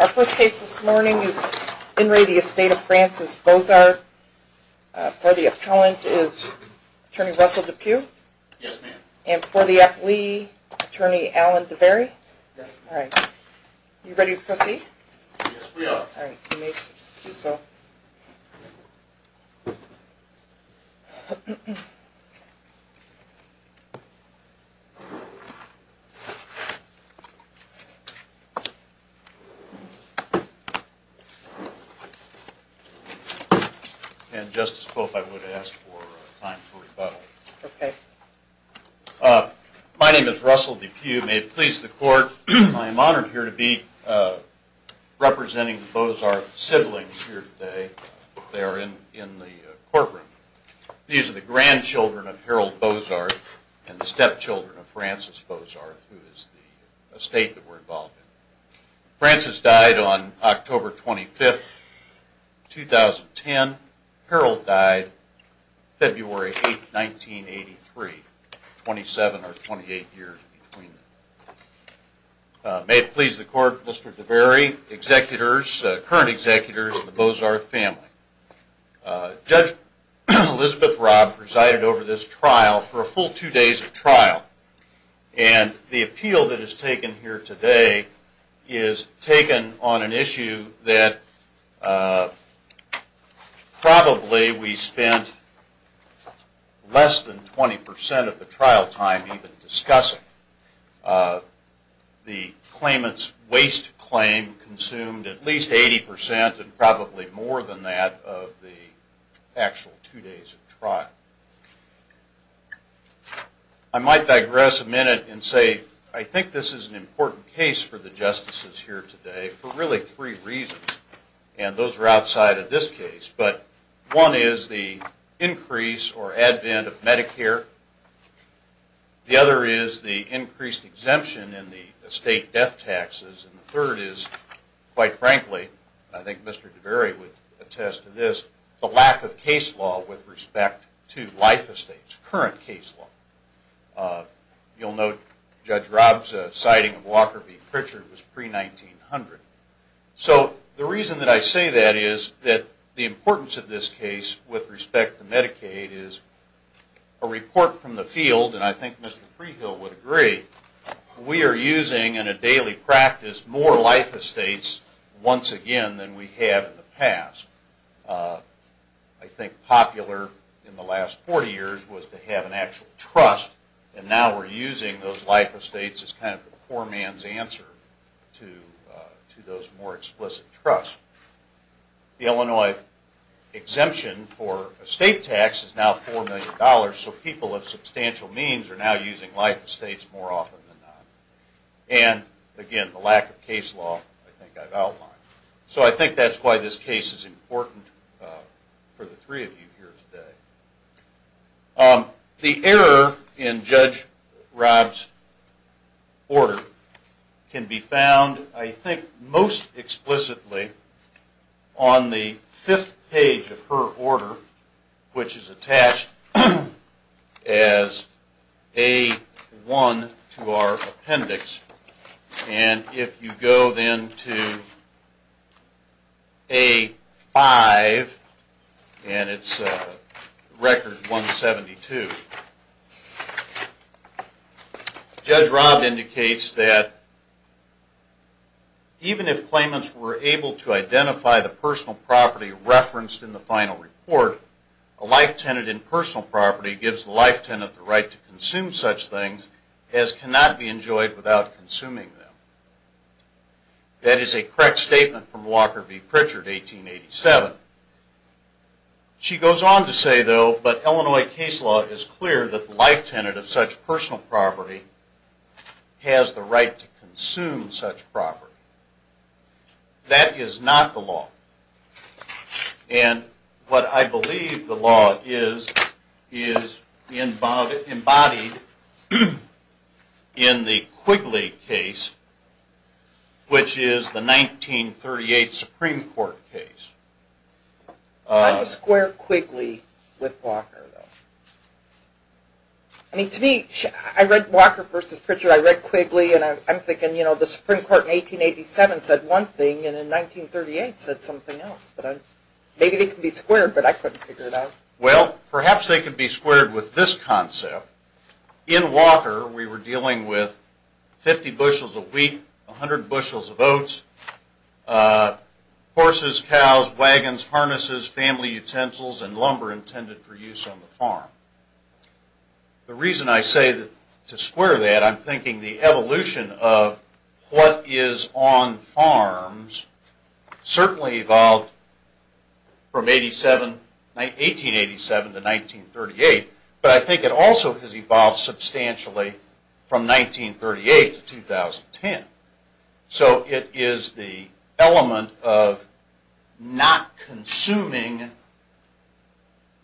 Our first case this morning is in re the Estate of Francis Bozarth. For the appellant is Attorney Russell DePue. Yes ma'am. And for the affilee Attorney Alan DeBerry. All right. You ready to proceed? Yes we are. And Justice Pope, I would ask for time for rebuttal. Okay. My name is Russell DePue. May it please the court, I am honored here to be representing the Bozarth siblings here today. They are in the courtroom. These are the grandchildren of Harold Bozarth and the stepchildren of Francis Bozarth, who is the estate that we Francis died on October 25, 2010. Harold died February 8, 1983, 27 or 28 years between them. May it please the court, Mr. DeBerry, executors, current executors of the Bozarth family. Judge Elizabeth Robb presided over this trial for a full two days of trial. And the appeal that was taken on an issue that probably we spent less than 20% of the trial time even discussing. The claimant's waste claim consumed at least 80% and probably more than that of the actual two days of trial. I might digress a minute and say I think this is an important case for the justices here today for really three reasons. And those are outside of this case. But one is the increase or advent of Medicare. The other is the increased exemption in the estate death taxes. And the third is, quite frankly, I think Mr. DeBerry would attest to this, the lack of case law with respect to life estates, current case law. You'll note Judge Robb's citing of Walker v. Pritchard was pre-1900. So the reason that I say that is that the importance of this case with respect to Medicaid is a report from the field, and I think Mr. Prehill would agree, we are using in a daily practice more life estates once again than we have in the past. I think popular in the last 40 years was to have an actual trust, and now we're using those life estates as kind of the poor man's answer to those more explicit trusts. The Illinois exemption for estate tax is now $4 million, so people of substantial means are now using life estates more often than not. And, again, the lack of case law I think I've outlined. So I think that's why this case is important for the error in Judge Robb's order can be found, I think, most explicitly on the fifth page of her order, which is attached as A-1 to our appendix. And if you go then to A-5, and it's record 172, Judge Robb indicates that even if claimants were able to identify the personal property referenced in the final report, a life tenant in personal property gives the life tenant the right to consume such things as cannot be enjoyed without consuming them. That is a correct statement from Walker v. Pritchard, 1887. She goes on to say, though, but Illinois case law is clear that the life tenant of such personal property has the right to consume such property. That is not the law. And what I believe the law is, is embodied in the Quigley case, which is the 1938 Supreme Court case. How do you square Quigley with Walker? I mean, to me, I read Walker v. Pritchard, I read Quigley, and I'm thinking, you know, the Supreme Court in 1887 said one thing, and in 1938 said something else. Maybe they can be squared, but I couldn't figure it out. Well, perhaps they could be squared with this concept. In Walker, we were dealing with 50 bushels of wheat, 100 bushels of oats, horses, cows, wagons, harnesses, family utensils, and lumber intended for use on the farm. The reason I say to square that, I'm thinking the evolution of what is on farms certainly evolved from 1887 to 1938, but I think it also has evolved substantially from 1938 to 2010. So it is the element of not consuming,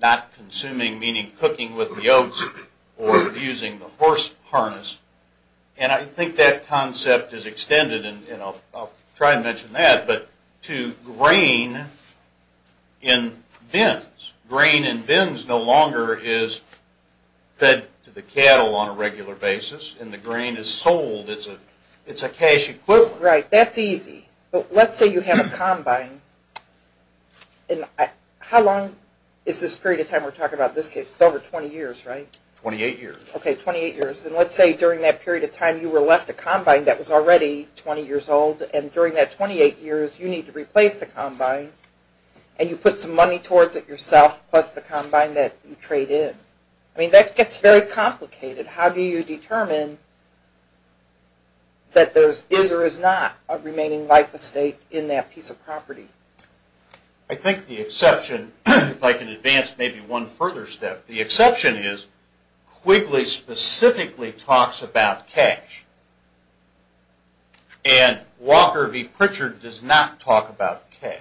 not consuming meaning cooking with the oats or using the horse harness, and I think that concept is extended, and I'll try to mention that, but to grain in bins. Grain in bins no longer is fed to the cattle on a regular basis, and the grain is sold. It's a cash equivalent. Right, that's easy, but let's say you have a combine, and how long is this period of time we're talking about in this case? It's over 20 years, right? 28 years. Okay, 28 years, and let's say during that period of time you were left a combine that was already 20 years old, and during that 28 years you need to replace the combine, and you put some money towards it yourself plus the combine that you trade in. I mean that gets very complicated. How do you determine that there is or is not a remaining life estate in that piece of property? I think the exception, if I can advance maybe one further step, the exception is Quigley specifically talks about cash, and Walker v. Pritchard does not talk about cash.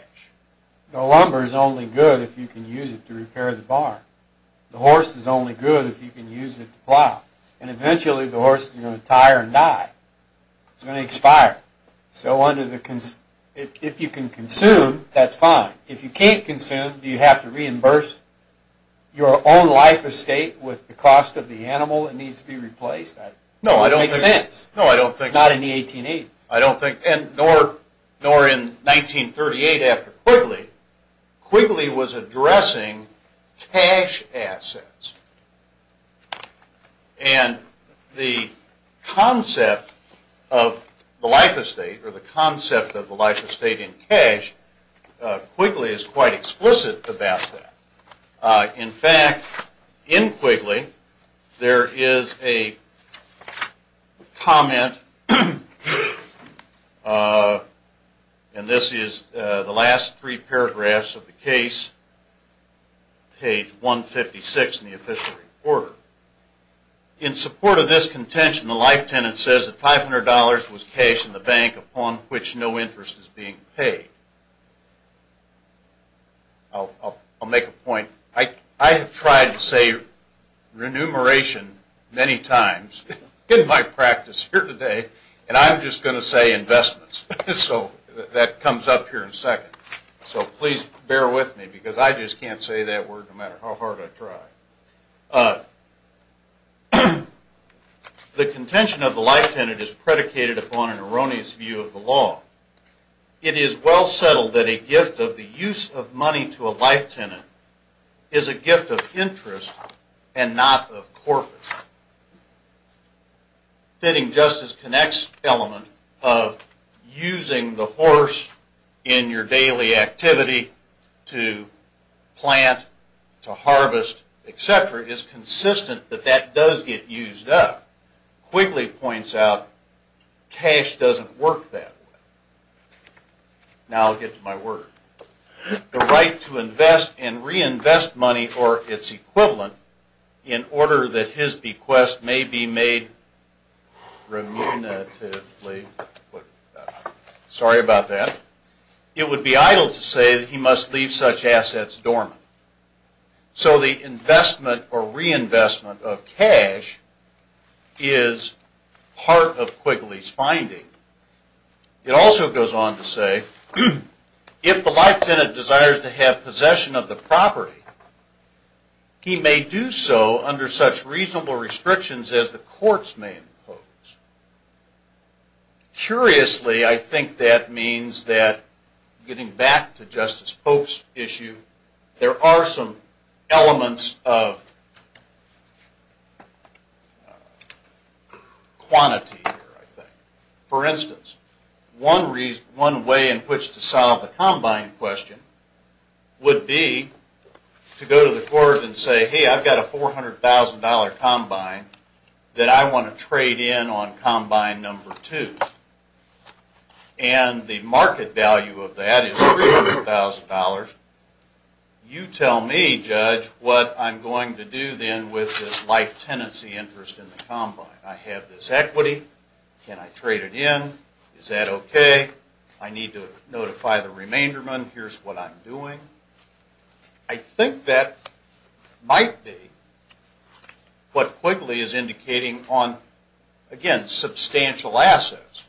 The lumber is only good if you can use it to repair the barn. The horse is only good if you can use it to plow, and eventually the horse is going to tire and die. It's going to expire, so if you can consume, that's fine. If you can't consume, do you have to reimburse your own life estate with the cost of the Not in the 1880s. I don't think, and nor in 1938 after Quigley. Quigley was addressing cash assets, and the concept of the life estate or the concept of the life estate in cash, Quigley is quite explicit about that. In fact, in Quigley, there is a comment, and this is the last three paragraphs of the case, page 156 in the official report. In support of this contention, the life tenant says that $500 was cash in the bank upon which no interest is being paid. I'll make a point. I have tried to say remuneration many times in my practice here today, and I'm just going to say investments, so that comes up here in a second. So please bear with me, because I just can't say that word no matter how hard I try. The contention of the life tenant is predicated upon an erroneous view of the law. It is well settled that a gift of the use of money to a life tenant is a gift of interest and not of corpus. Fitting Justice Connect's element of using the horse in your daily activity to plant, to harvest, et cetera, is consistent that that does get used up. Quigley points out cash doesn't work that way. Now I'll get to my word. The right to invest and reinvest money for its equivalent in order that his bequest may be made remuneratively, sorry about that, it would be idle to say he must leave such assets dormant. So the investment or reinvestment of cash is part of Quigley's finding. It also goes on to say if the life tenant desires to have possession of the property, he may do so under such reasonable restrictions as the courts may impose. Curiously, I think that means that, getting back to Justice Pope's issue, there are some elements of quantity here, I think. For instance, one reason, one way in which to solve the combine question would be to go to the court and say, hey, I've got a $400,000 combine that I want to trade in on combine number two. And the market value of that is $300,000. You tell me, Judge, what I'm going to do then with this life tenancy interest in the combine? I have this equity. Can I trade it in? Is that okay? I need to notify the remainderment. Here's what I'm doing. I think that might be what Quigley is indicating on, again, substantial assets.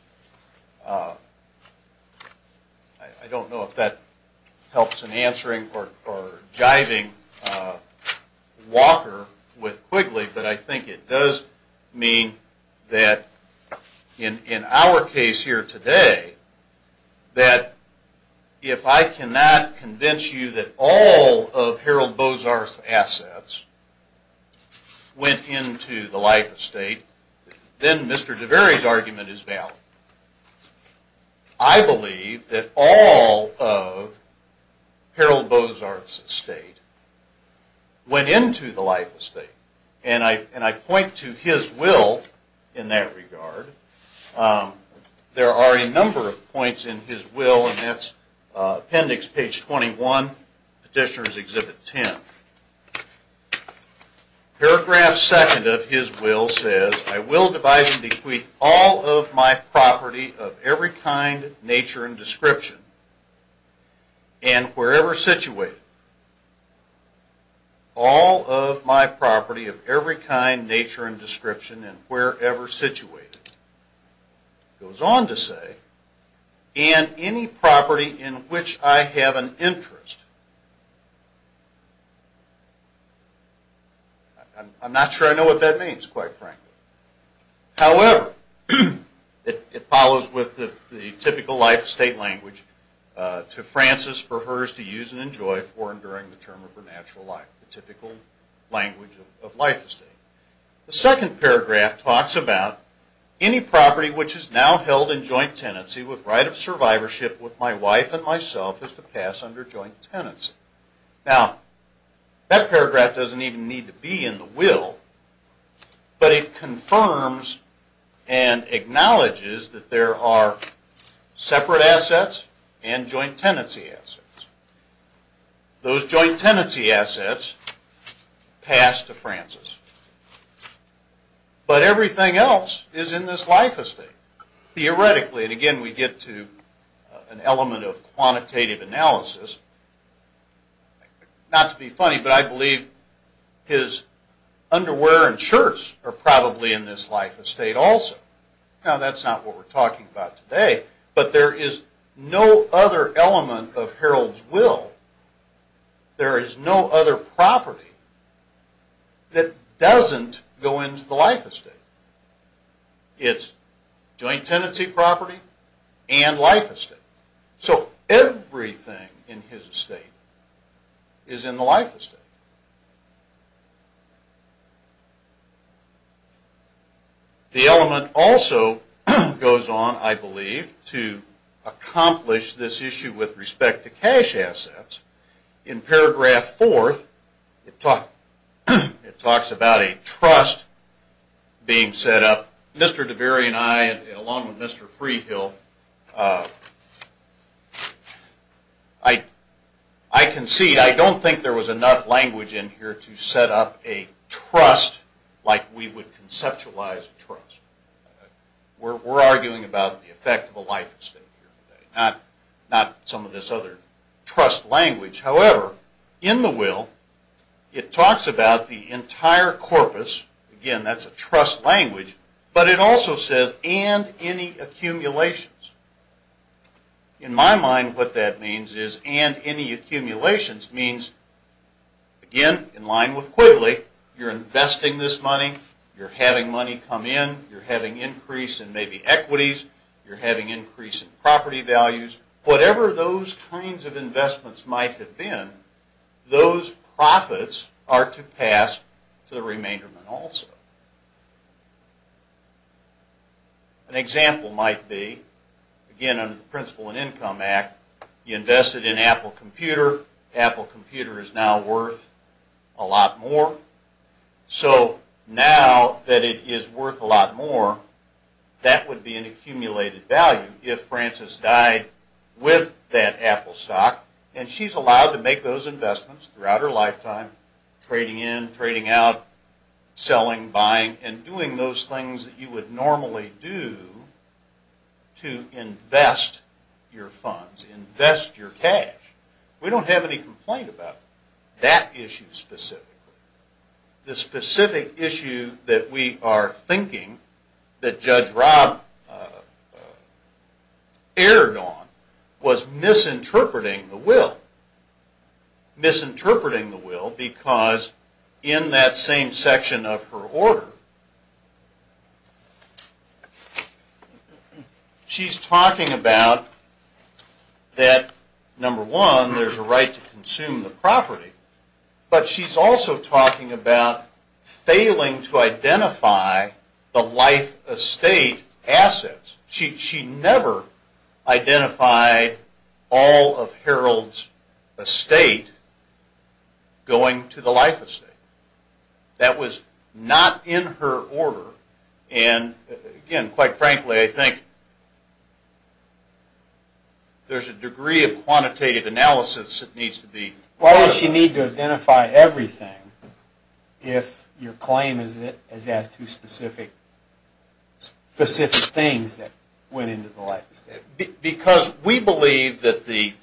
I don't know if that helps in answering or jiving Walker with Quigley, but I think it does mean that in our case here today, that if I cannot convince you that all of Harold Bozarth's assets went into the life estate, then Mr. DeVere's argument is valid. I believe that all of Harold Bozarth's estate went into the life estate. And I point to his will in that regard. There are a number of points in his will, and that's appendix page 21, petitioner's exhibit 10. Paragraph second of his will says, I will divide and separate all of my property of every kind, nature, and description, and wherever situated. All of my property of every kind, nature, and description, and wherever situated. It goes on to say, and any property in which I have an interest. I'm not sure I know what that means, quite frankly. However, it follows with the typical life estate language to Frances for hers to use and enjoy for and during the term of her natural life, the typical language of life estate. The second paragraph talks about any property which is now held in joint tenancy with right of survivorship with my wife and myself is to pass under joint tenancy. Now, that paragraph doesn't even need to be in the will, but it confirms and acknowledges that there are separate assets and joint tenancy assets. Those joint tenancy assets pass to Frances. But everything else is in this life estate. Theoretically, and again we get to an element of quantitative analysis, not to be funny, but I believe his underwear and shirts are probably in this life estate also. Now, that's not what we're talking about today, but there is no other element of Harold's will, there is no other property that doesn't go into the life estate. It's joint tenancy property and life estate. So everything in his estate is in the life estate. The element also goes on, I believe, to accomplish this trust being set up. Mr. Deberry and I, along with Mr. Freehill, I concede, I don't think there was enough language in here to set up a trust like we would conceptualize a trust. We're arguing about the effect of a life estate here today, not some of this other trust language. However, in the will it talks about the entire corpus, again that's a trust language, but it also says and any accumulations. In my mind what that means is and any accumulations means, again in line with Quigley, you're investing this money, you're having money come in, you're having increase in maybe equities, you're having increase in property values, whatever those kinds of investments might have been, those profits are to pass to the remainderment also. An example might be, again under the Principle in Income Act, you invested in Apple Computer, Apple Computer is now worth a lot more. So now that it is worth a lot more, that would be an accumulated value if Frances died with that Apple stock and she's allowed to make those investments throughout her lifetime, trading in, trading out, selling, buying and doing those things that you would normally do to invest your funds, invest your cash. We don't have any complaint about that issue specifically. The specific issue that we are thinking that Judge Rob erred on was misinterpreting the will. Misinterpreting the will because in that same section of her order, she's talking about that number one there's a right to consume the property, but she's also talking about failing to identify the life estate assets. She never identified all of Harold's estate going to the life estate. That was not in her order and again, quite frankly, I think there's a degree of quantitative analysis that needs to be... Why would she need to identify everything if your claim is as to specific things that went into the life estate? Because we believe that the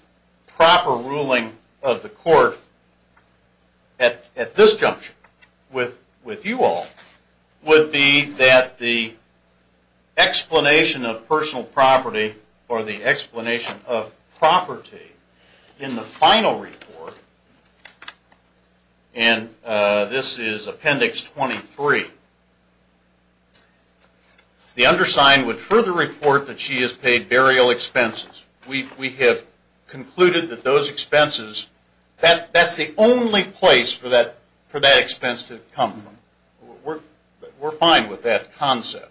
proper ruling of the court at this junction with you all would be that the explanation of personal property in the final report, and this is Appendix 23, the undersigned would further report that she has paid burial expenses. We have concluded that those expenses, that's the only place for that expense to come from. We're fine with that concept.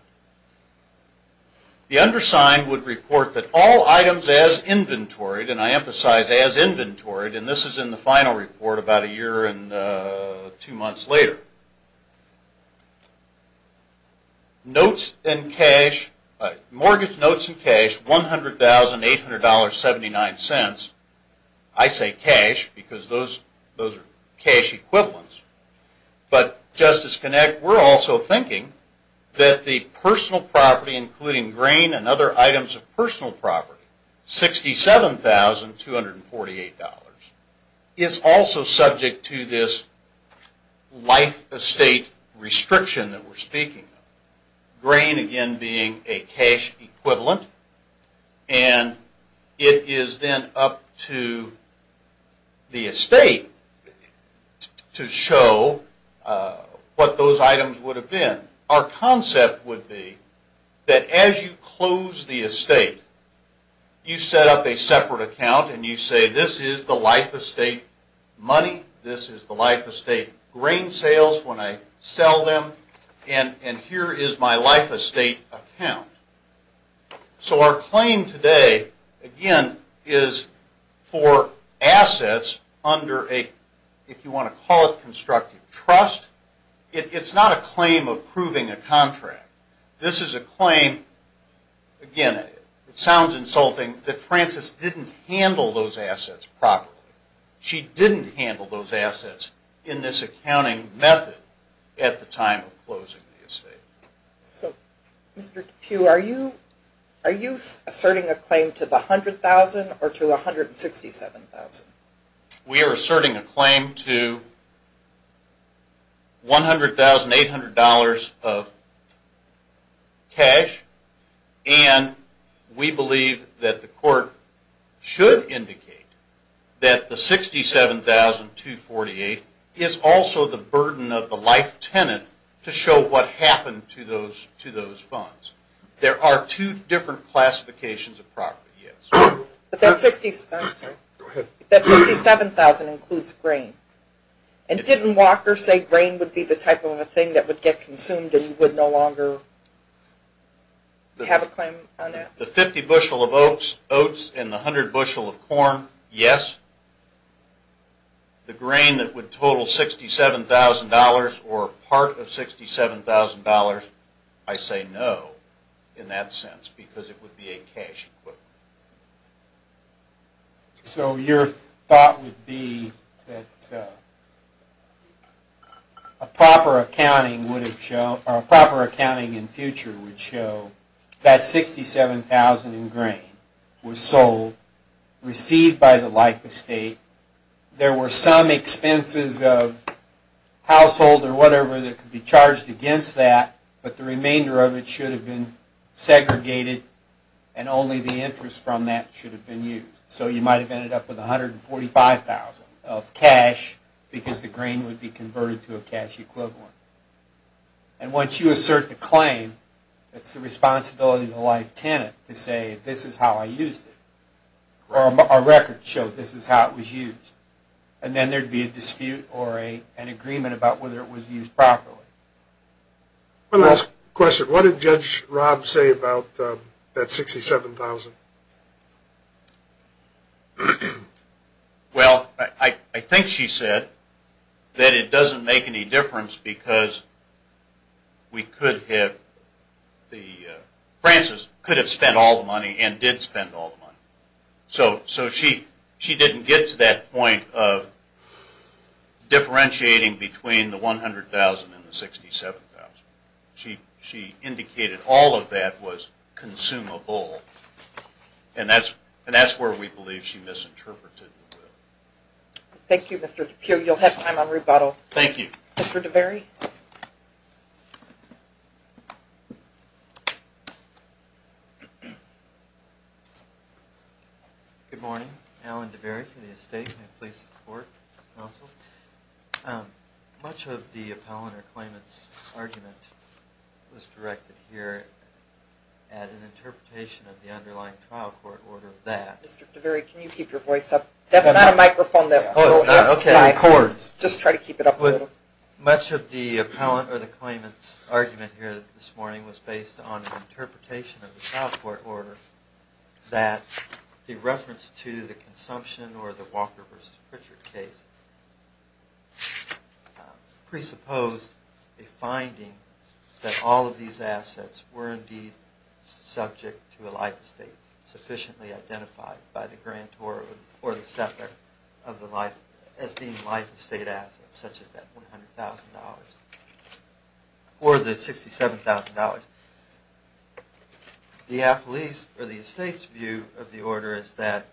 The undersigned would report that all items as inventoried, and I emphasize as inventoried, and this is in the final report about a year and two months later. Mortgage notes and cash, $100,800.79. I say cash because those are cash equivalents, but Justice Kinect, we're also thinking that the personal property, including grain and other items of personal property, $67,248, is also subject to this life estate restriction that we're speaking of. Grain, again, being a cash equivalent, and it is then up to the estate to show what those items would have been. Our concept would be that as you close the estate, you set up a separate account and you say this is the life estate money, this is the life estate grain sales when I sell them, and here is my life estate account. So our claim today, again, is for assets under a, if you want to call it constructive trust, it's not a claim of proving a contract. This is a claim, again, it sounds insulting, that Frances didn't handle those assets properly. She didn't handle those assets in this accounting method at the time of closing the estate. So Mr. DePue, are you asserting a claim to the $100,000 or to the $167,000? We are asserting a claim to $100,000, $800 of cash, and we believe that the court should indicate that the $67,248 is also the burden of the life tenant to show what happened to those funds. There are two different classifications of property, yes. But that $67,000 includes grain, and didn't Walker say grain would be the type of a thing that would get consumed and you would no longer have a claim on that? The 50 bushel of oats and the 100 bushel of corn, yes. The grain that would total $67,000 or part of $67,000, I say no in that sense because it would be a cash equivalent. So your thought would be that a proper accounting in future would show that $67,000 in grain was sold, received by the life estate. There were some expenses of household or whatever that could be charged against that, but the remainder of it should have been segregated and only the interest from that should have been used. So you might have ended up with $145,000 of cash because the grain would be converted to a cash equivalent. And once you assert the claim, it's the responsibility of the life tenant to say this is how I used it, or a record showed this is how it was used. And then there would be a dispute or an agreement about whether it was used properly. One last question. What did Judge Rob say about that $67,000? Well, I think she said that it doesn't make any difference because Francis could have spent all the money and did spend all the money. So she didn't get to that point of between the $100,000 and the $67,000. She indicated all of that was consumable, and that's where we believe she misinterpreted the word. Thank you, Mr. DePue. You'll have time on rebuttal. Thank you. Mr. DeVere? Good morning. Alan DeVere for the estate, and I please support the counsel. Much of the appellant or claimant's argument was directed here at an interpretation of the underlying trial court order that Mr. DeVere, can you keep your voice up? That's not a microphone that will Oh, it's not. Okay. It records. Just try to keep it up a little. Much of the appellant or the claimant's argument here this morning was based on an interpretation of the trial court order that the reference to the consumption or the Walker v. Pritchard case presupposed a finding that all of these assets were indeed subject to a life estate sufficiently identified by the grantor or the settler as being life estate assets, such as that $100,000 or the $67,000. The appellee's or the estate's view of the order is that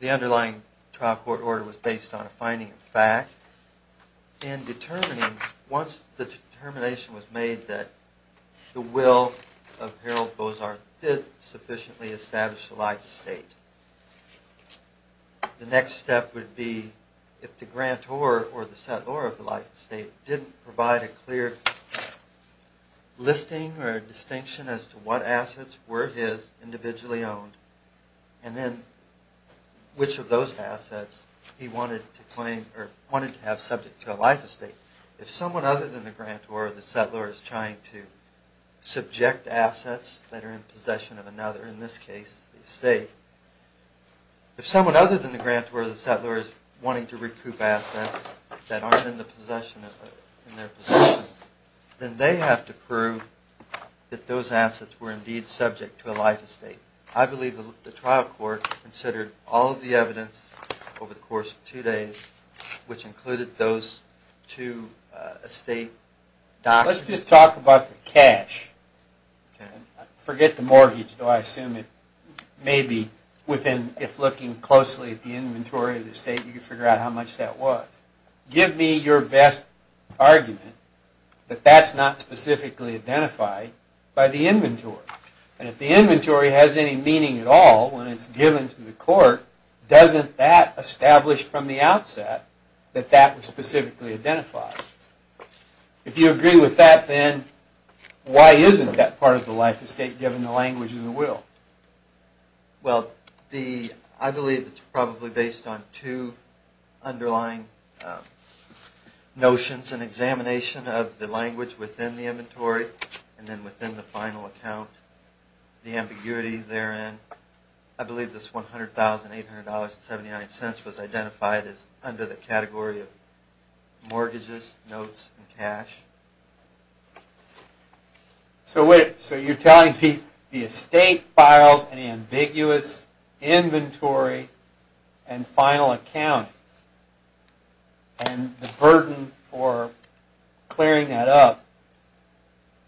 the underlying trial court order was based on a finding of fact, and once the determination was made that the will of Harold The next step would be if the grantor or the settler of the life estate didn't provide a clear listing or a distinction as to what assets were his individually owned, and then which of those assets he wanted to claim or wanted to have subject to a life estate. If someone other than the grantor or the settler is trying to subject assets that are in possession of another, in this case the estate, if someone other than the grantor or the settler is wanting to recoup assets that aren't in their possession, then they have to prove that those assets were indeed subject to a life estate. I believe the trial court considered all of the evidence over the course of two days, which included those two estate documents. Let's just talk about the cash. Forget the mortgage, though I assume it may be within, if looking closely at the inventory of the estate, you can figure out how much that was. Give me your best argument that that's not specifically identified by the inventory, and if the inventory has any meaning at all when it's given to the court, doesn't that establish from the outset that that was specifically identified? If you agree with that, then why isn't that part of the life estate given the language and the will? I believe it's probably based on two underlying notions and examination of the language within the inventory, and then within the final account, the ambiguity therein. I believe this $100,800.79 was identified as under the category of mortgages, notes, and cash. So you're telling me the estate files an ambiguous inventory and final account, and the burden for clearing that up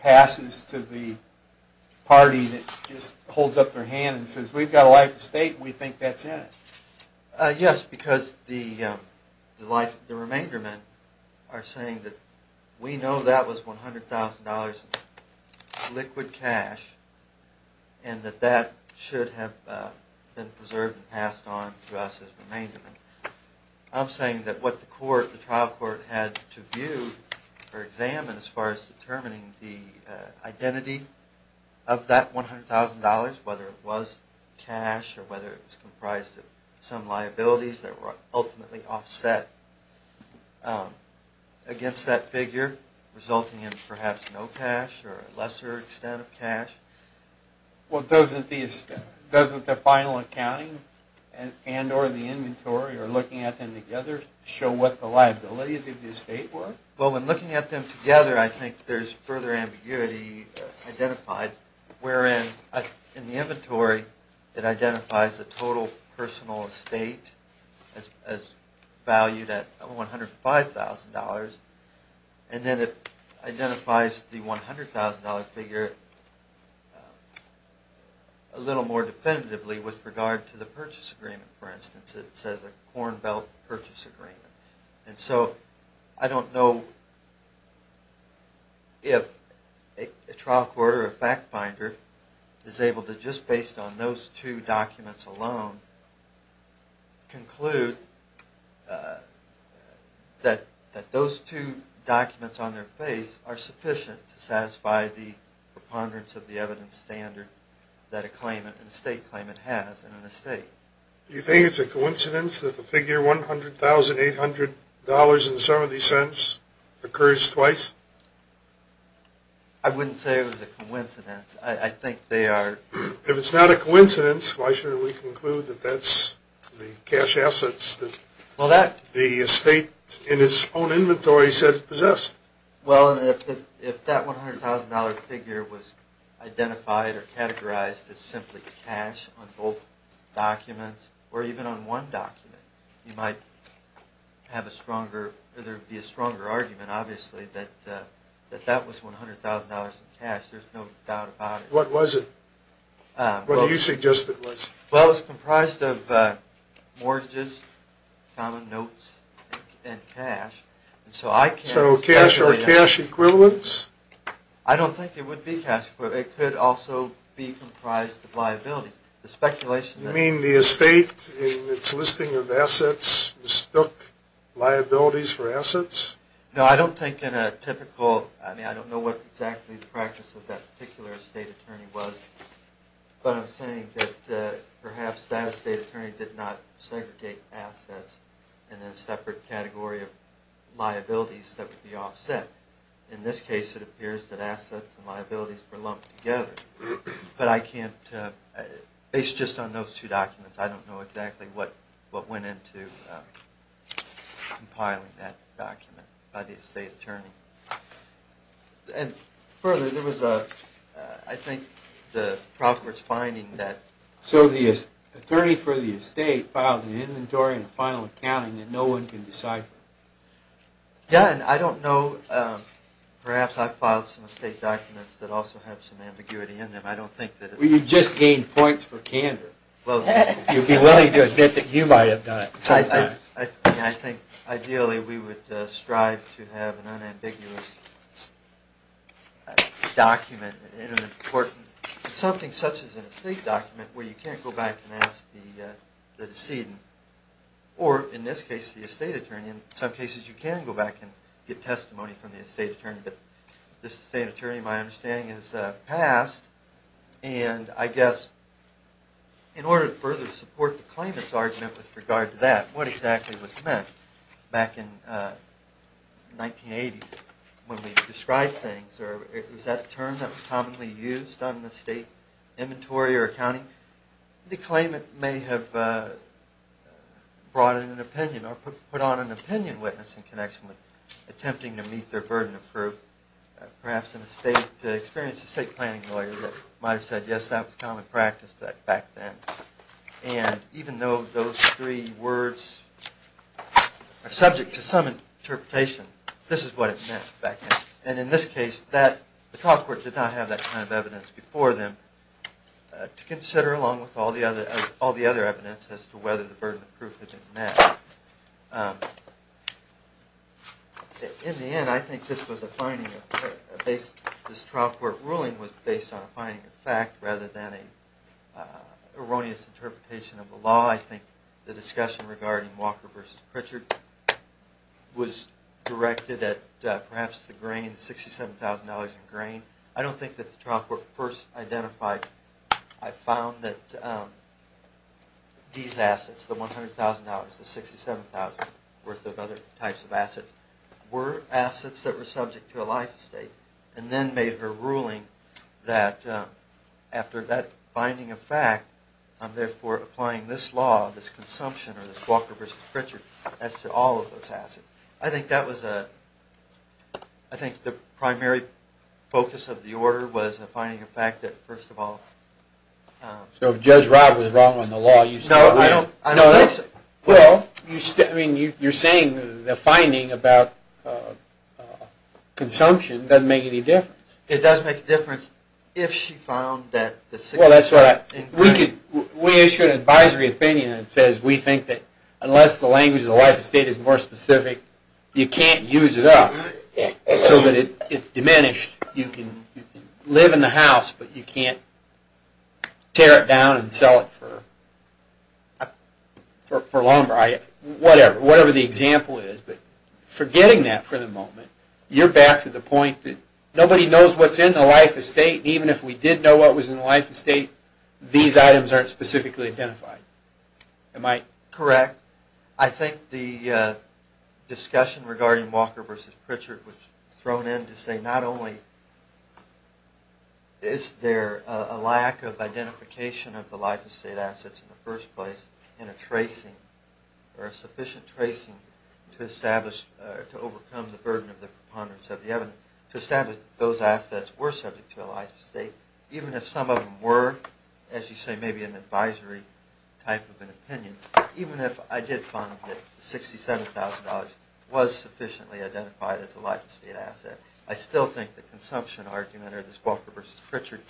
passes to the party that just holds up their hand and says, we've got a life estate and we think that's in it. Yes, because the remainder men are saying that we know that was $100,000 in liquid cash and that that should have been preserved and passed on to us as remainder men. I'm saying that what the trial court had to view or examine as far as determining the identity of that $100,000, whether it was cash or whether it was comprised of some liabilities that were ultimately offset against that figure, resulting in perhaps no cash or a lesser extent of cash. Well, doesn't the final accounting and or the inventory or looking at them together show what the liabilities of the estate were? Well, when looking at them together, I think there's further ambiguity identified wherein in the inventory it identifies the total personal estate as valued at $105,000 and then it identifies the $100,000 figure a little more definitively with regard to the purchase agreement, for instance. It says a Corn Belt purchase agreement. And so I don't know if a trial court or a fact finder is able to just based on those two documents alone conclude that those two documents on their face are sufficient to satisfy the preponderance of the evidence standard that a claimant, an estate claimant has in an estate. Do you think it's a coincidence that the figure $100,800.70 occurs twice? I wouldn't say it was a coincidence. I think they are. If it's not a coincidence, why should we conclude that that's the cash assets that the estate in its own inventory said it possessed? Well, if that $100,000 figure was identified or categorized as simply cash on both documents or even on one document, there would be a stronger argument obviously that that was $100,000 in cash. There's no doubt about it. What was it? What do you suggest it was? Well, it was comprised of mortgages, common notes, and cash. So cash or cash equivalents? I don't think it would be cash equivalents. It could also be comprised of liabilities. You mean the estate in its listing of assets mistook liabilities for assets? No, I don't think in a typical – I don't know what exactly the practice of that particular estate attorney was, but I'm saying that perhaps that estate attorney did not segregate assets in a separate category of liabilities that would be offset. In this case, it appears that assets and liabilities were lumped together. But I can't – based just on those two documents, I don't know exactly what went into compiling that document by the estate attorney. And further, there was a – I think the Proctor's finding that – So the attorney for the estate filed an inventory and a final accounting that no one can decipher? Yeah, and I don't know – perhaps I filed some estate documents that also have some ambiguity in them. I don't think that – Well, you just gained points for candor. Well – You'd be willing to admit that you might have done it at some time. I think ideally we would strive to have an unambiguous document in an important – something such as an estate document where you can't go back and ask the decedent, or in this case, the estate attorney. In some cases, you can go back and get testimony from the estate attorney. But the estate attorney, my understanding is, passed. And I guess in order to further support the claimant's argument with regard to that, what exactly was meant back in the 1980s when we described things? Or was that a term that was commonly used on the state inventory or accounting? The claimant may have brought in an opinion or put on an opinion witness in connection with attempting to meet their burden of proof, perhaps an experienced estate planning lawyer that might have said, yes, that was common practice back then. And even though those three words are subject to some interpretation, this is what it meant back then. And in this case, the trial court did not have that kind of evidence before them to consider along with all the other evidence as to whether the burden of proof had been met. In the end, I think this trial court ruling was based on a finding of fact rather than an erroneous interpretation of the law. I think the discussion regarding Walker v. Pritchard was directed at perhaps the $67,000 in grain. I don't think that the trial court first identified. I found that these assets, the $100,000, the $67,000 worth of other types of assets, were assets that were subject to a life estate and then made a ruling that after that finding of fact, I'm therefore applying this law, this consumption, or this Walker v. Pritchard, as to all of those assets. I think the primary focus of the order was the finding of fact that first of all... So if Judge Rob was wrong on the law, you still... No, I don't think so. Well, you're saying the finding about consumption doesn't make any difference. We issued an advisory opinion that says we think that unless the language of the life estate is more specific, you can't use it up so that it's diminished. You can live in the house, but you can't tear it down and sell it for lumber. Whatever the example is, but forgetting that for the moment, you're back to the point that nobody knows what's in the life estate. Even if we did know what was in the life estate, these items aren't specifically identified. Am I... Correct. I think the discussion regarding Walker v. Pritchard was thrown in to say not only is there a lack of identification of the life estate assets in the first place and a sufficient tracing to overcome the burden of the preponderance of the evidence, to establish those assets were subject to a life estate, even if some of them were, as you say, maybe an advisory type of an opinion. Even if I did find that $67,000 was sufficiently identified as a life estate asset, I still think the consumption argument or this Walker v. Pritchard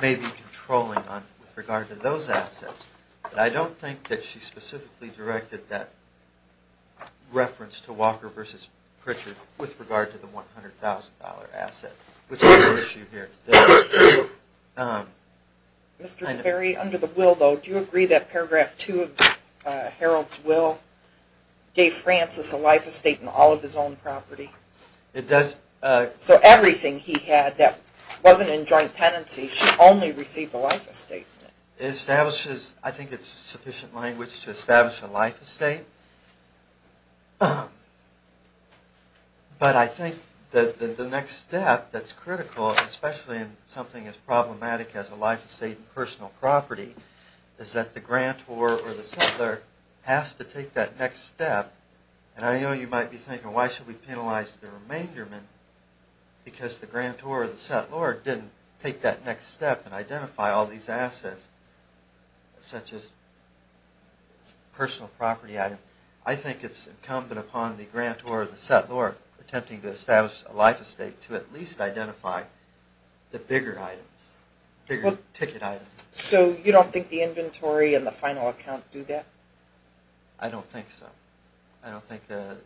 may be controlling with regard to those assets. But I don't think that she specifically directed that reference to Walker v. Pritchard with regard to the $100,000 asset, which is the issue here. Mr. DeVerry, under the will, though, do you agree that paragraph 2 of Harold's will gave Francis a life estate in all of his own property? It does. So everything he had that wasn't in joint tenancy, she only received a life estate. It establishes, I think it's sufficient language to establish a life estate. But I think that the next step that's critical, especially in something as problematic as a life estate in personal property, is that the grantor or the settlor has to take that next step. And I know you might be thinking, why should we penalize the remainder because the grantor or the settlor didn't take that next step and identify all these assets such as personal property items. I think it's incumbent upon the grantor or the settlor attempting to establish a life estate to at least identify the bigger items, bigger ticket items. So you don't think the inventory and the final account do that? I don't think so. I don't think the...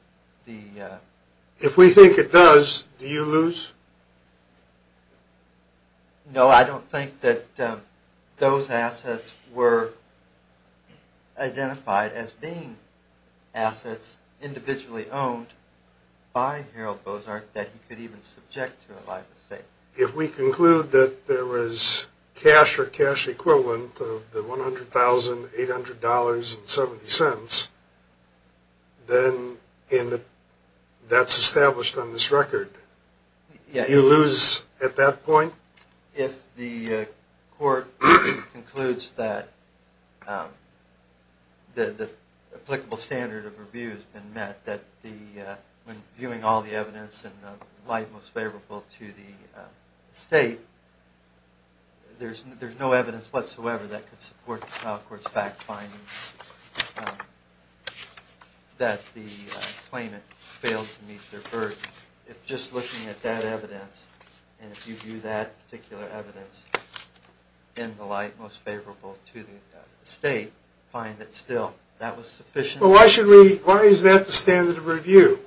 If we think it does, do you lose? No, I don't think that those assets were identified as being assets individually owned by Harold Bozsark that he could even subject to a life estate. If we conclude that there was cash or cash equivalent of the $100,800.70, then that's established on this record. Do you lose at that point? If the court concludes that the applicable standard of review has been met, that when viewing all the evidence in the light most favorable to the state, there's no evidence whatsoever that could support the trial court's fact finding that the claimant failed to meet their burden. If just looking at that evidence and if you view that particular evidence in the light most favorable to the state, find that still that was sufficient... Why is that the standard of review?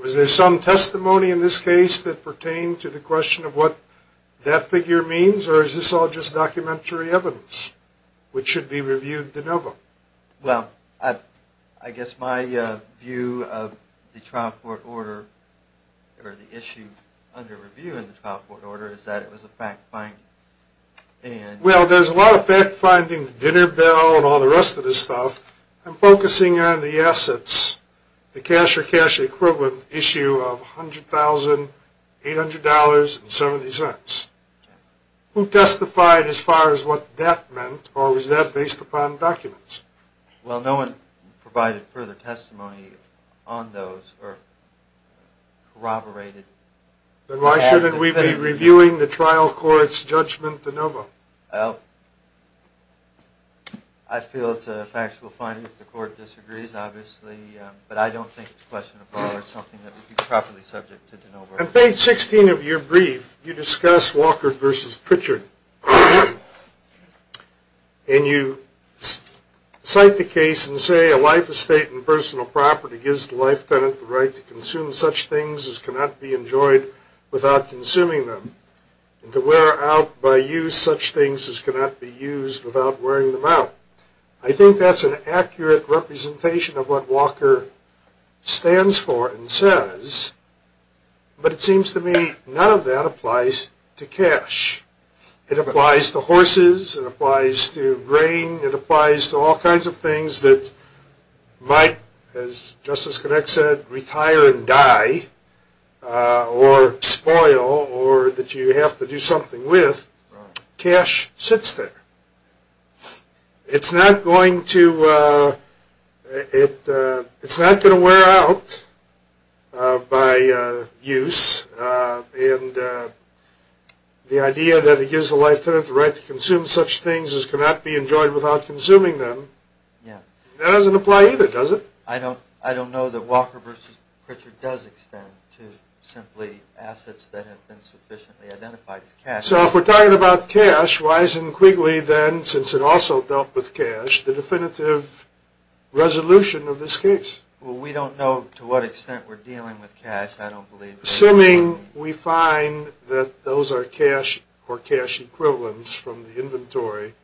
Was there some testimony in this case that pertained to the question of what that figure means or is this all just documentary evidence which should be reviewed de novo? Well, I guess my view of the trial court order or the issue under review in the trial court order is that it was a fact finding. Well, there's a lot of fact finding, the dinner bill and all the rest of this stuff. I'm focusing on the assets, the cash or cash equivalent issue of $100,800.70. Who testified as far as what that meant or was that based upon documents? Well, no one provided further testimony on those or corroborated... Then why shouldn't we be reviewing the trial court's judgment de novo? I feel it's a factual finding if the court disagrees, obviously, but I don't think it's questionable or something that would be properly subject to de novo. On page 16 of your brief, you discuss Walker versus Pritchard. And you cite the case and say, A life estate and personal property gives the life tenant the right to consume such things as cannot be enjoyed without consuming them, and to wear out by use such things as cannot be used without wearing them out. I think that's an accurate representation of what Walker stands for and says, but it seems to me none of that applies to cash. It applies to horses. It applies to grain. It applies to all kinds of things that might, as Justice Connick said, retire and die or spoil or that you have to do something with. Cash sits there. It's not going to wear out by use. And the idea that it gives the life tenant the right to consume such things as cannot be enjoyed without consuming them, that doesn't apply either, does it? I don't know that Walker versus Pritchard does extend to simply assets that have been sufficiently identified as cash. So if we're talking about cash, why isn't Quigley then, since it also dealt with cash, the definitive resolution of this case? Well, we don't know to what extent we're dealing with cash. I don't believe that. Assuming we find that those are cash or cash equivalents from the inventory,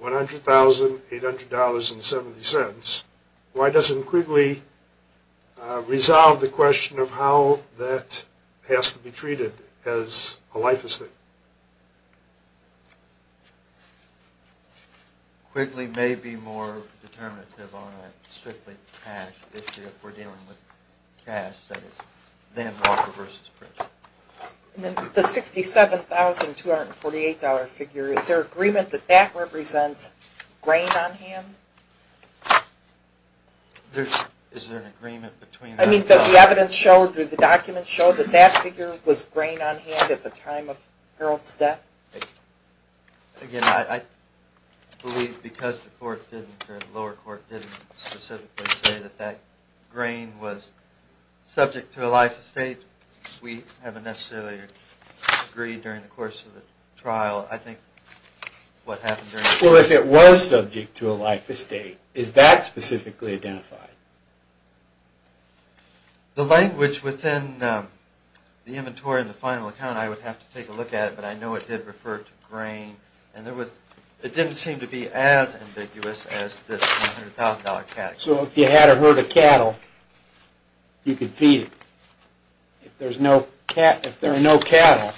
$100,000, $800, and 70 cents, why doesn't Quigley resolve the question of how that has to be treated as a life estate? Quigley may be more determinative on a strictly cash issue if we're dealing with cash, that is, than Walker versus Pritchard. The $67,248 figure, is there agreement that that represents grain on hand? Is there an agreement between them? I mean, does the evidence show, do the documents show, that that figure was grain on hand at the time of Harold's death? Again, I believe because the lower court didn't specifically say that that grain was subject to a life estate, we haven't necessarily agreed during the course of the trial. I think what happened during the trial... Well, if it was subject to a life estate, is that specifically identified? The language within the inventory and the final account, I would have to take a look at it, but I know it did refer to grain, and it didn't seem to be as ambiguous as this $100,000 category. So if you had a herd of cattle, you could feed it? If there are no cattle,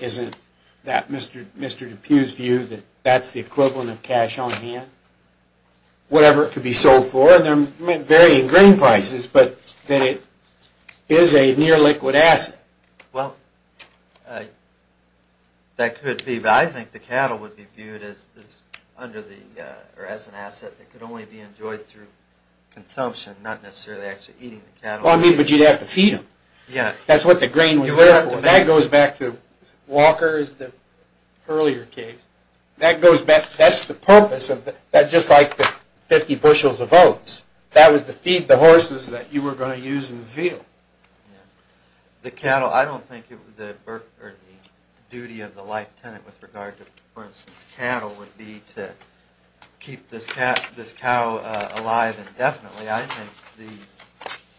isn't that Mr. DePue's view that that's the equivalent of cash on hand? Whatever it could be sold for, and there may vary in grain prices, but that it is a near-liquid asset? Well, that could be, but I think the cattle would be viewed as an asset that could only be enjoyed through consumption, not necessarily actually eating the cattle. But you'd have to feed them. That's what the grain was there for. That goes back to Walker's earlier case. That's the purpose, just like the 50 bushels of oats. That was to feed the horses that you were going to use in the field. The duty of the life tenant with regard to, for instance, cattle, would be to keep this cow alive indefinitely. I think,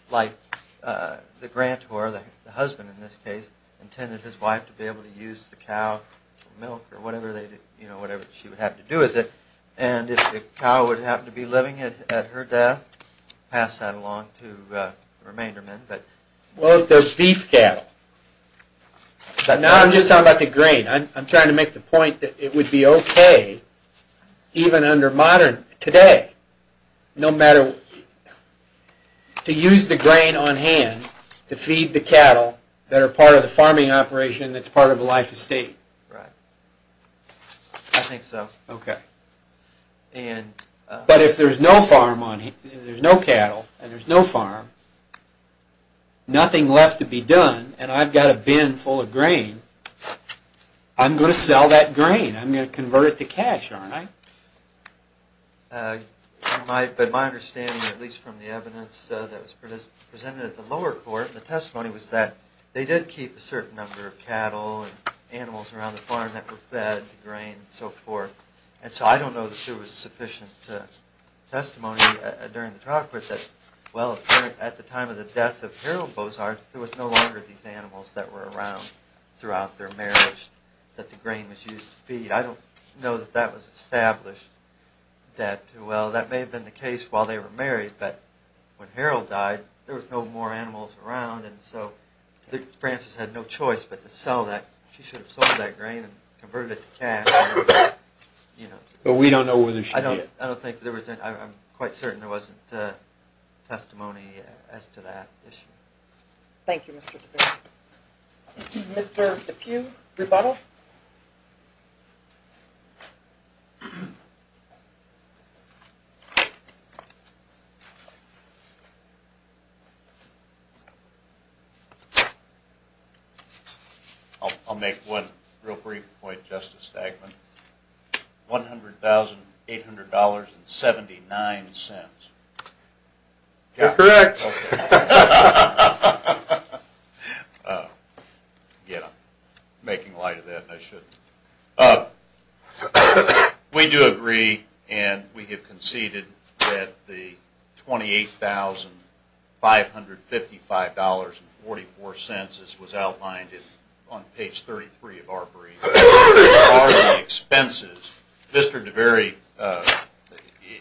like the grantor, the husband in this case, intended his wife to be able to use the cow for milk or whatever she would have to do with it. And if the cow would happen to be living at her death, pass that along to the remainder men. Well, if there's beef cattle. But now I'm just talking about the grain. I'm trying to make the point that it would be okay, even under modern, today, to use the grain on hand to feed the cattle that are part of the farming operation that's part of a life estate. I think so. But if there's no cattle and there's no farm, nothing left to be done, and I've got a bin full of grain, I'm going to sell that grain. I'm going to convert it to cash, aren't I? But my understanding, at least from the evidence that was presented at the lower court, the testimony was that they did keep a certain number of cattle and animals around the farm that were fed the grain and so forth. And so I don't know that there was sufficient testimony during the trial court that, well, at the time of the death of Harold Bozarth, there was no longer these animals that were around throughout their marriage that the grain was used to feed. I don't know that that was established that, well, that may have been the case while they were married, but when Harold died, there was no more animals around, and so Frances had no choice but to sell that. She should have sold that grain and converted it to cash. But we don't know whether she did. I don't think there was any. I'm quite certain there wasn't testimony as to that issue. Thank you, Mr. DePuy. Mr. DePuy, rebuttal? I'll make one real brief point, Justice Stagman. $100,800.79. You're correct. Again, I'm making light of that, and I shouldn't. We do agree, and we have conceded that the $28,555.44 was outlined on page 33 of Arbery. As far as the expenses, Mr. DeVerey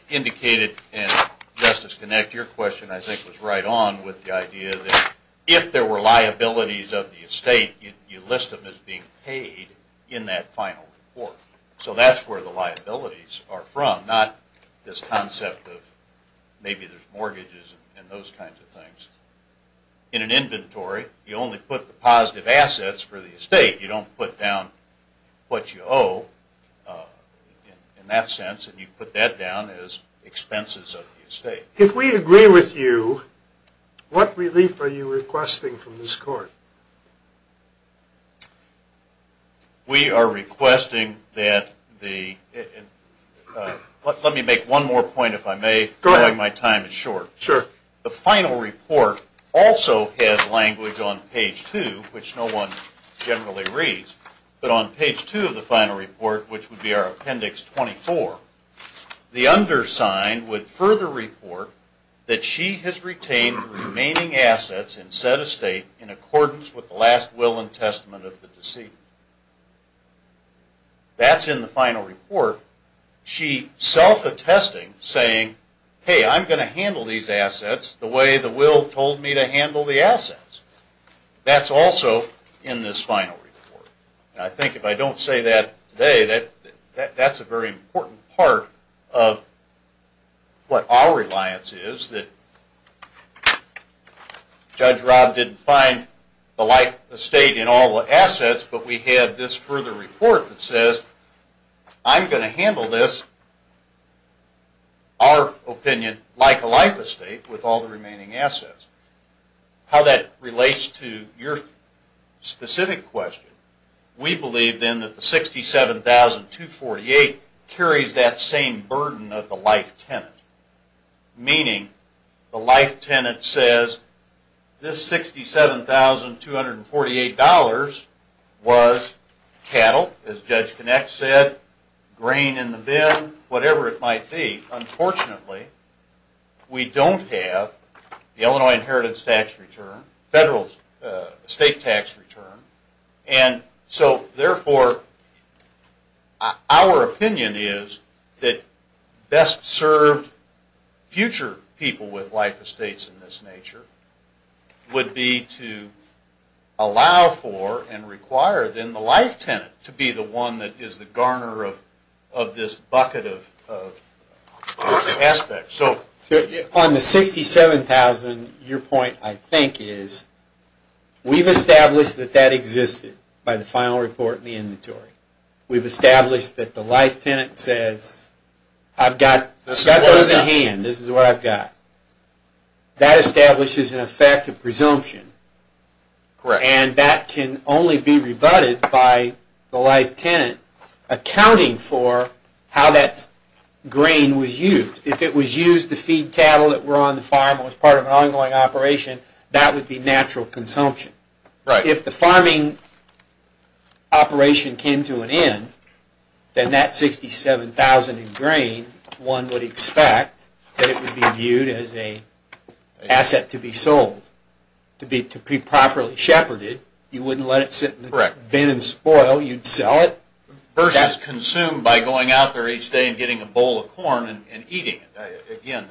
indicated, and Justice Kinect, your question, I think, was right on with the idea that if there were liabilities of the estate, you list them as being paid in that final report. So that's where the liabilities are from, not this concept of maybe there's mortgages and those kinds of things. In an inventory, you only put the positive assets for the estate. You don't put down what you owe in that sense, and you put that down as expenses of the estate. If we agree with you, what relief are you requesting from this Court? We are requesting that the – let me make one more point, if I may, knowing my time is short. Sure. The final report also has language on page 2, which no one generally reads, but on page 2 of the final report, which would be our Appendix 24, the undersigned would further report that she has retained the remaining assets and set estate in accordance with the last will and testament of the decedent. That's in the final report. She self-attesting, saying, hey, I'm going to handle these assets the way the will told me to handle the assets. That's also in this final report. And I think if I don't say that today, that's a very important part of what our reliance is, that Judge Rob didn't find the life estate in all the assets, but we had this further report that says, I'm going to handle this, our opinion, like a life estate with all the remaining assets. How that relates to your specific question, we believe then that the $67,248 carries that same burden of the life tenant, meaning the life tenant says this $67,248 was cattle, as Judge Kinect said, grain in the bin, whatever it might be. Unfortunately, we don't have the Illinois Inheritance Tax return, federal estate tax return, and so therefore, our opinion is that best served future people with life estates in this nature would be to allow for and require then the life tenant to be the one that is the garner of this bucket of aspects. On the $67,248, your point I think is, we've established that that existed by the final report in the inventory. We've established that the life tenant says, I've got those in hand, this is what I've got. That establishes an effective presumption, and that can only be rebutted by the life tenant accounting for how that grain was used. If it was used to feed cattle that were on the farm and was part of an ongoing operation, that would be natural consumption. If the farming operation came to an end, then that $67,248 in grain, one would expect that it would be viewed as an asset to be sold, to be properly shepherded. You wouldn't let it sit in the bin and spoil. You'd sell it. That's consumed by going out there each day and getting a bowl of corn and eating it. Again,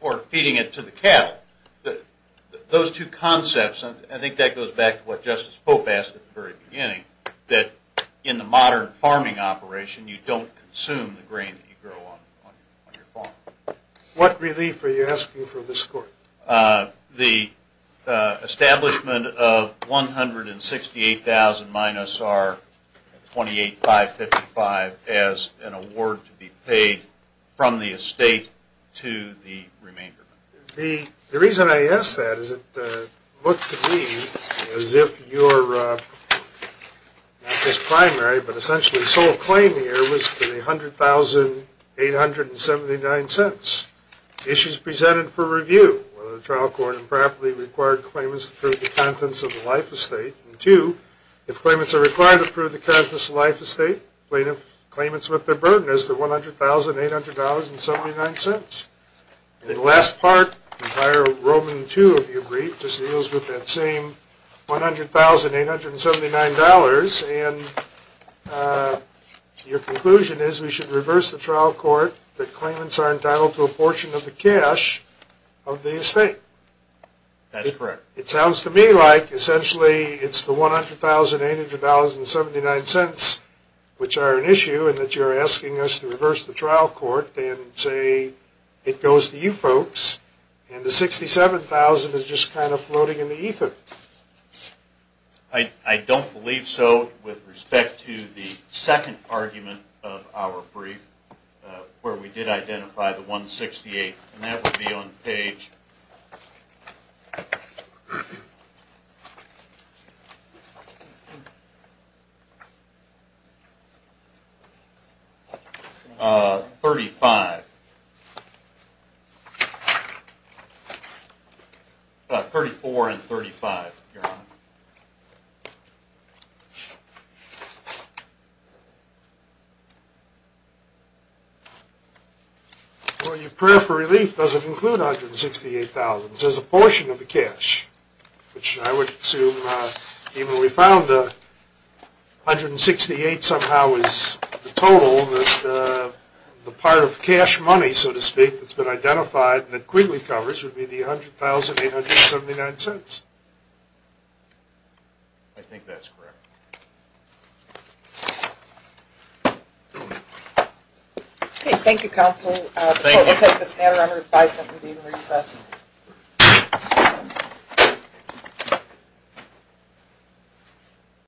or feeding it to the cattle. Those two concepts, I think that goes back to what Justice Pope asked at the very beginning, that in the modern farming operation, you don't consume the grain that you grow on your farm. What relief are you asking for this Court? The establishment of $168,000 minus our $28,555 as an award to be paid from the estate to the remainder. The reason I ask that is it looked to me as if your, not just primary, but essentially sole claim here was for the $100,879. Issues presented for review, whether the trial court improperly required claimants to prove the contents of a life estate, and two, if claimants are required to prove the contents of a life estate, plaintiff claimants with their burden is the $100,879. And the last part, the entire Roman II of your brief, just deals with that same $100,879, and your conclusion is we should reverse the trial court, that claimants are entitled to a portion of the cash of the estate. That's correct. It sounds to me like essentially it's the $100,879, which are an issue, and that you're asking us to reverse the trial court and say it goes to you folks, and the $67,000 is just kind of floating in the ether. I don't believe so with respect to the second argument of our brief, where we did identify the $168,000, and that would be on page 34 and 35, Your Honor. Well, your prayer for relief doesn't include $168,000. It says a portion of the cash, which I would assume, even though we found $168,000 somehow is the total, the part of cash money, so to speak, that's been identified and that Quigley covers would be the $100,879. I think that's correct. Okay. Thank you, Counsel. Thank you. Before we take this matter under advisement, we'll be in recess.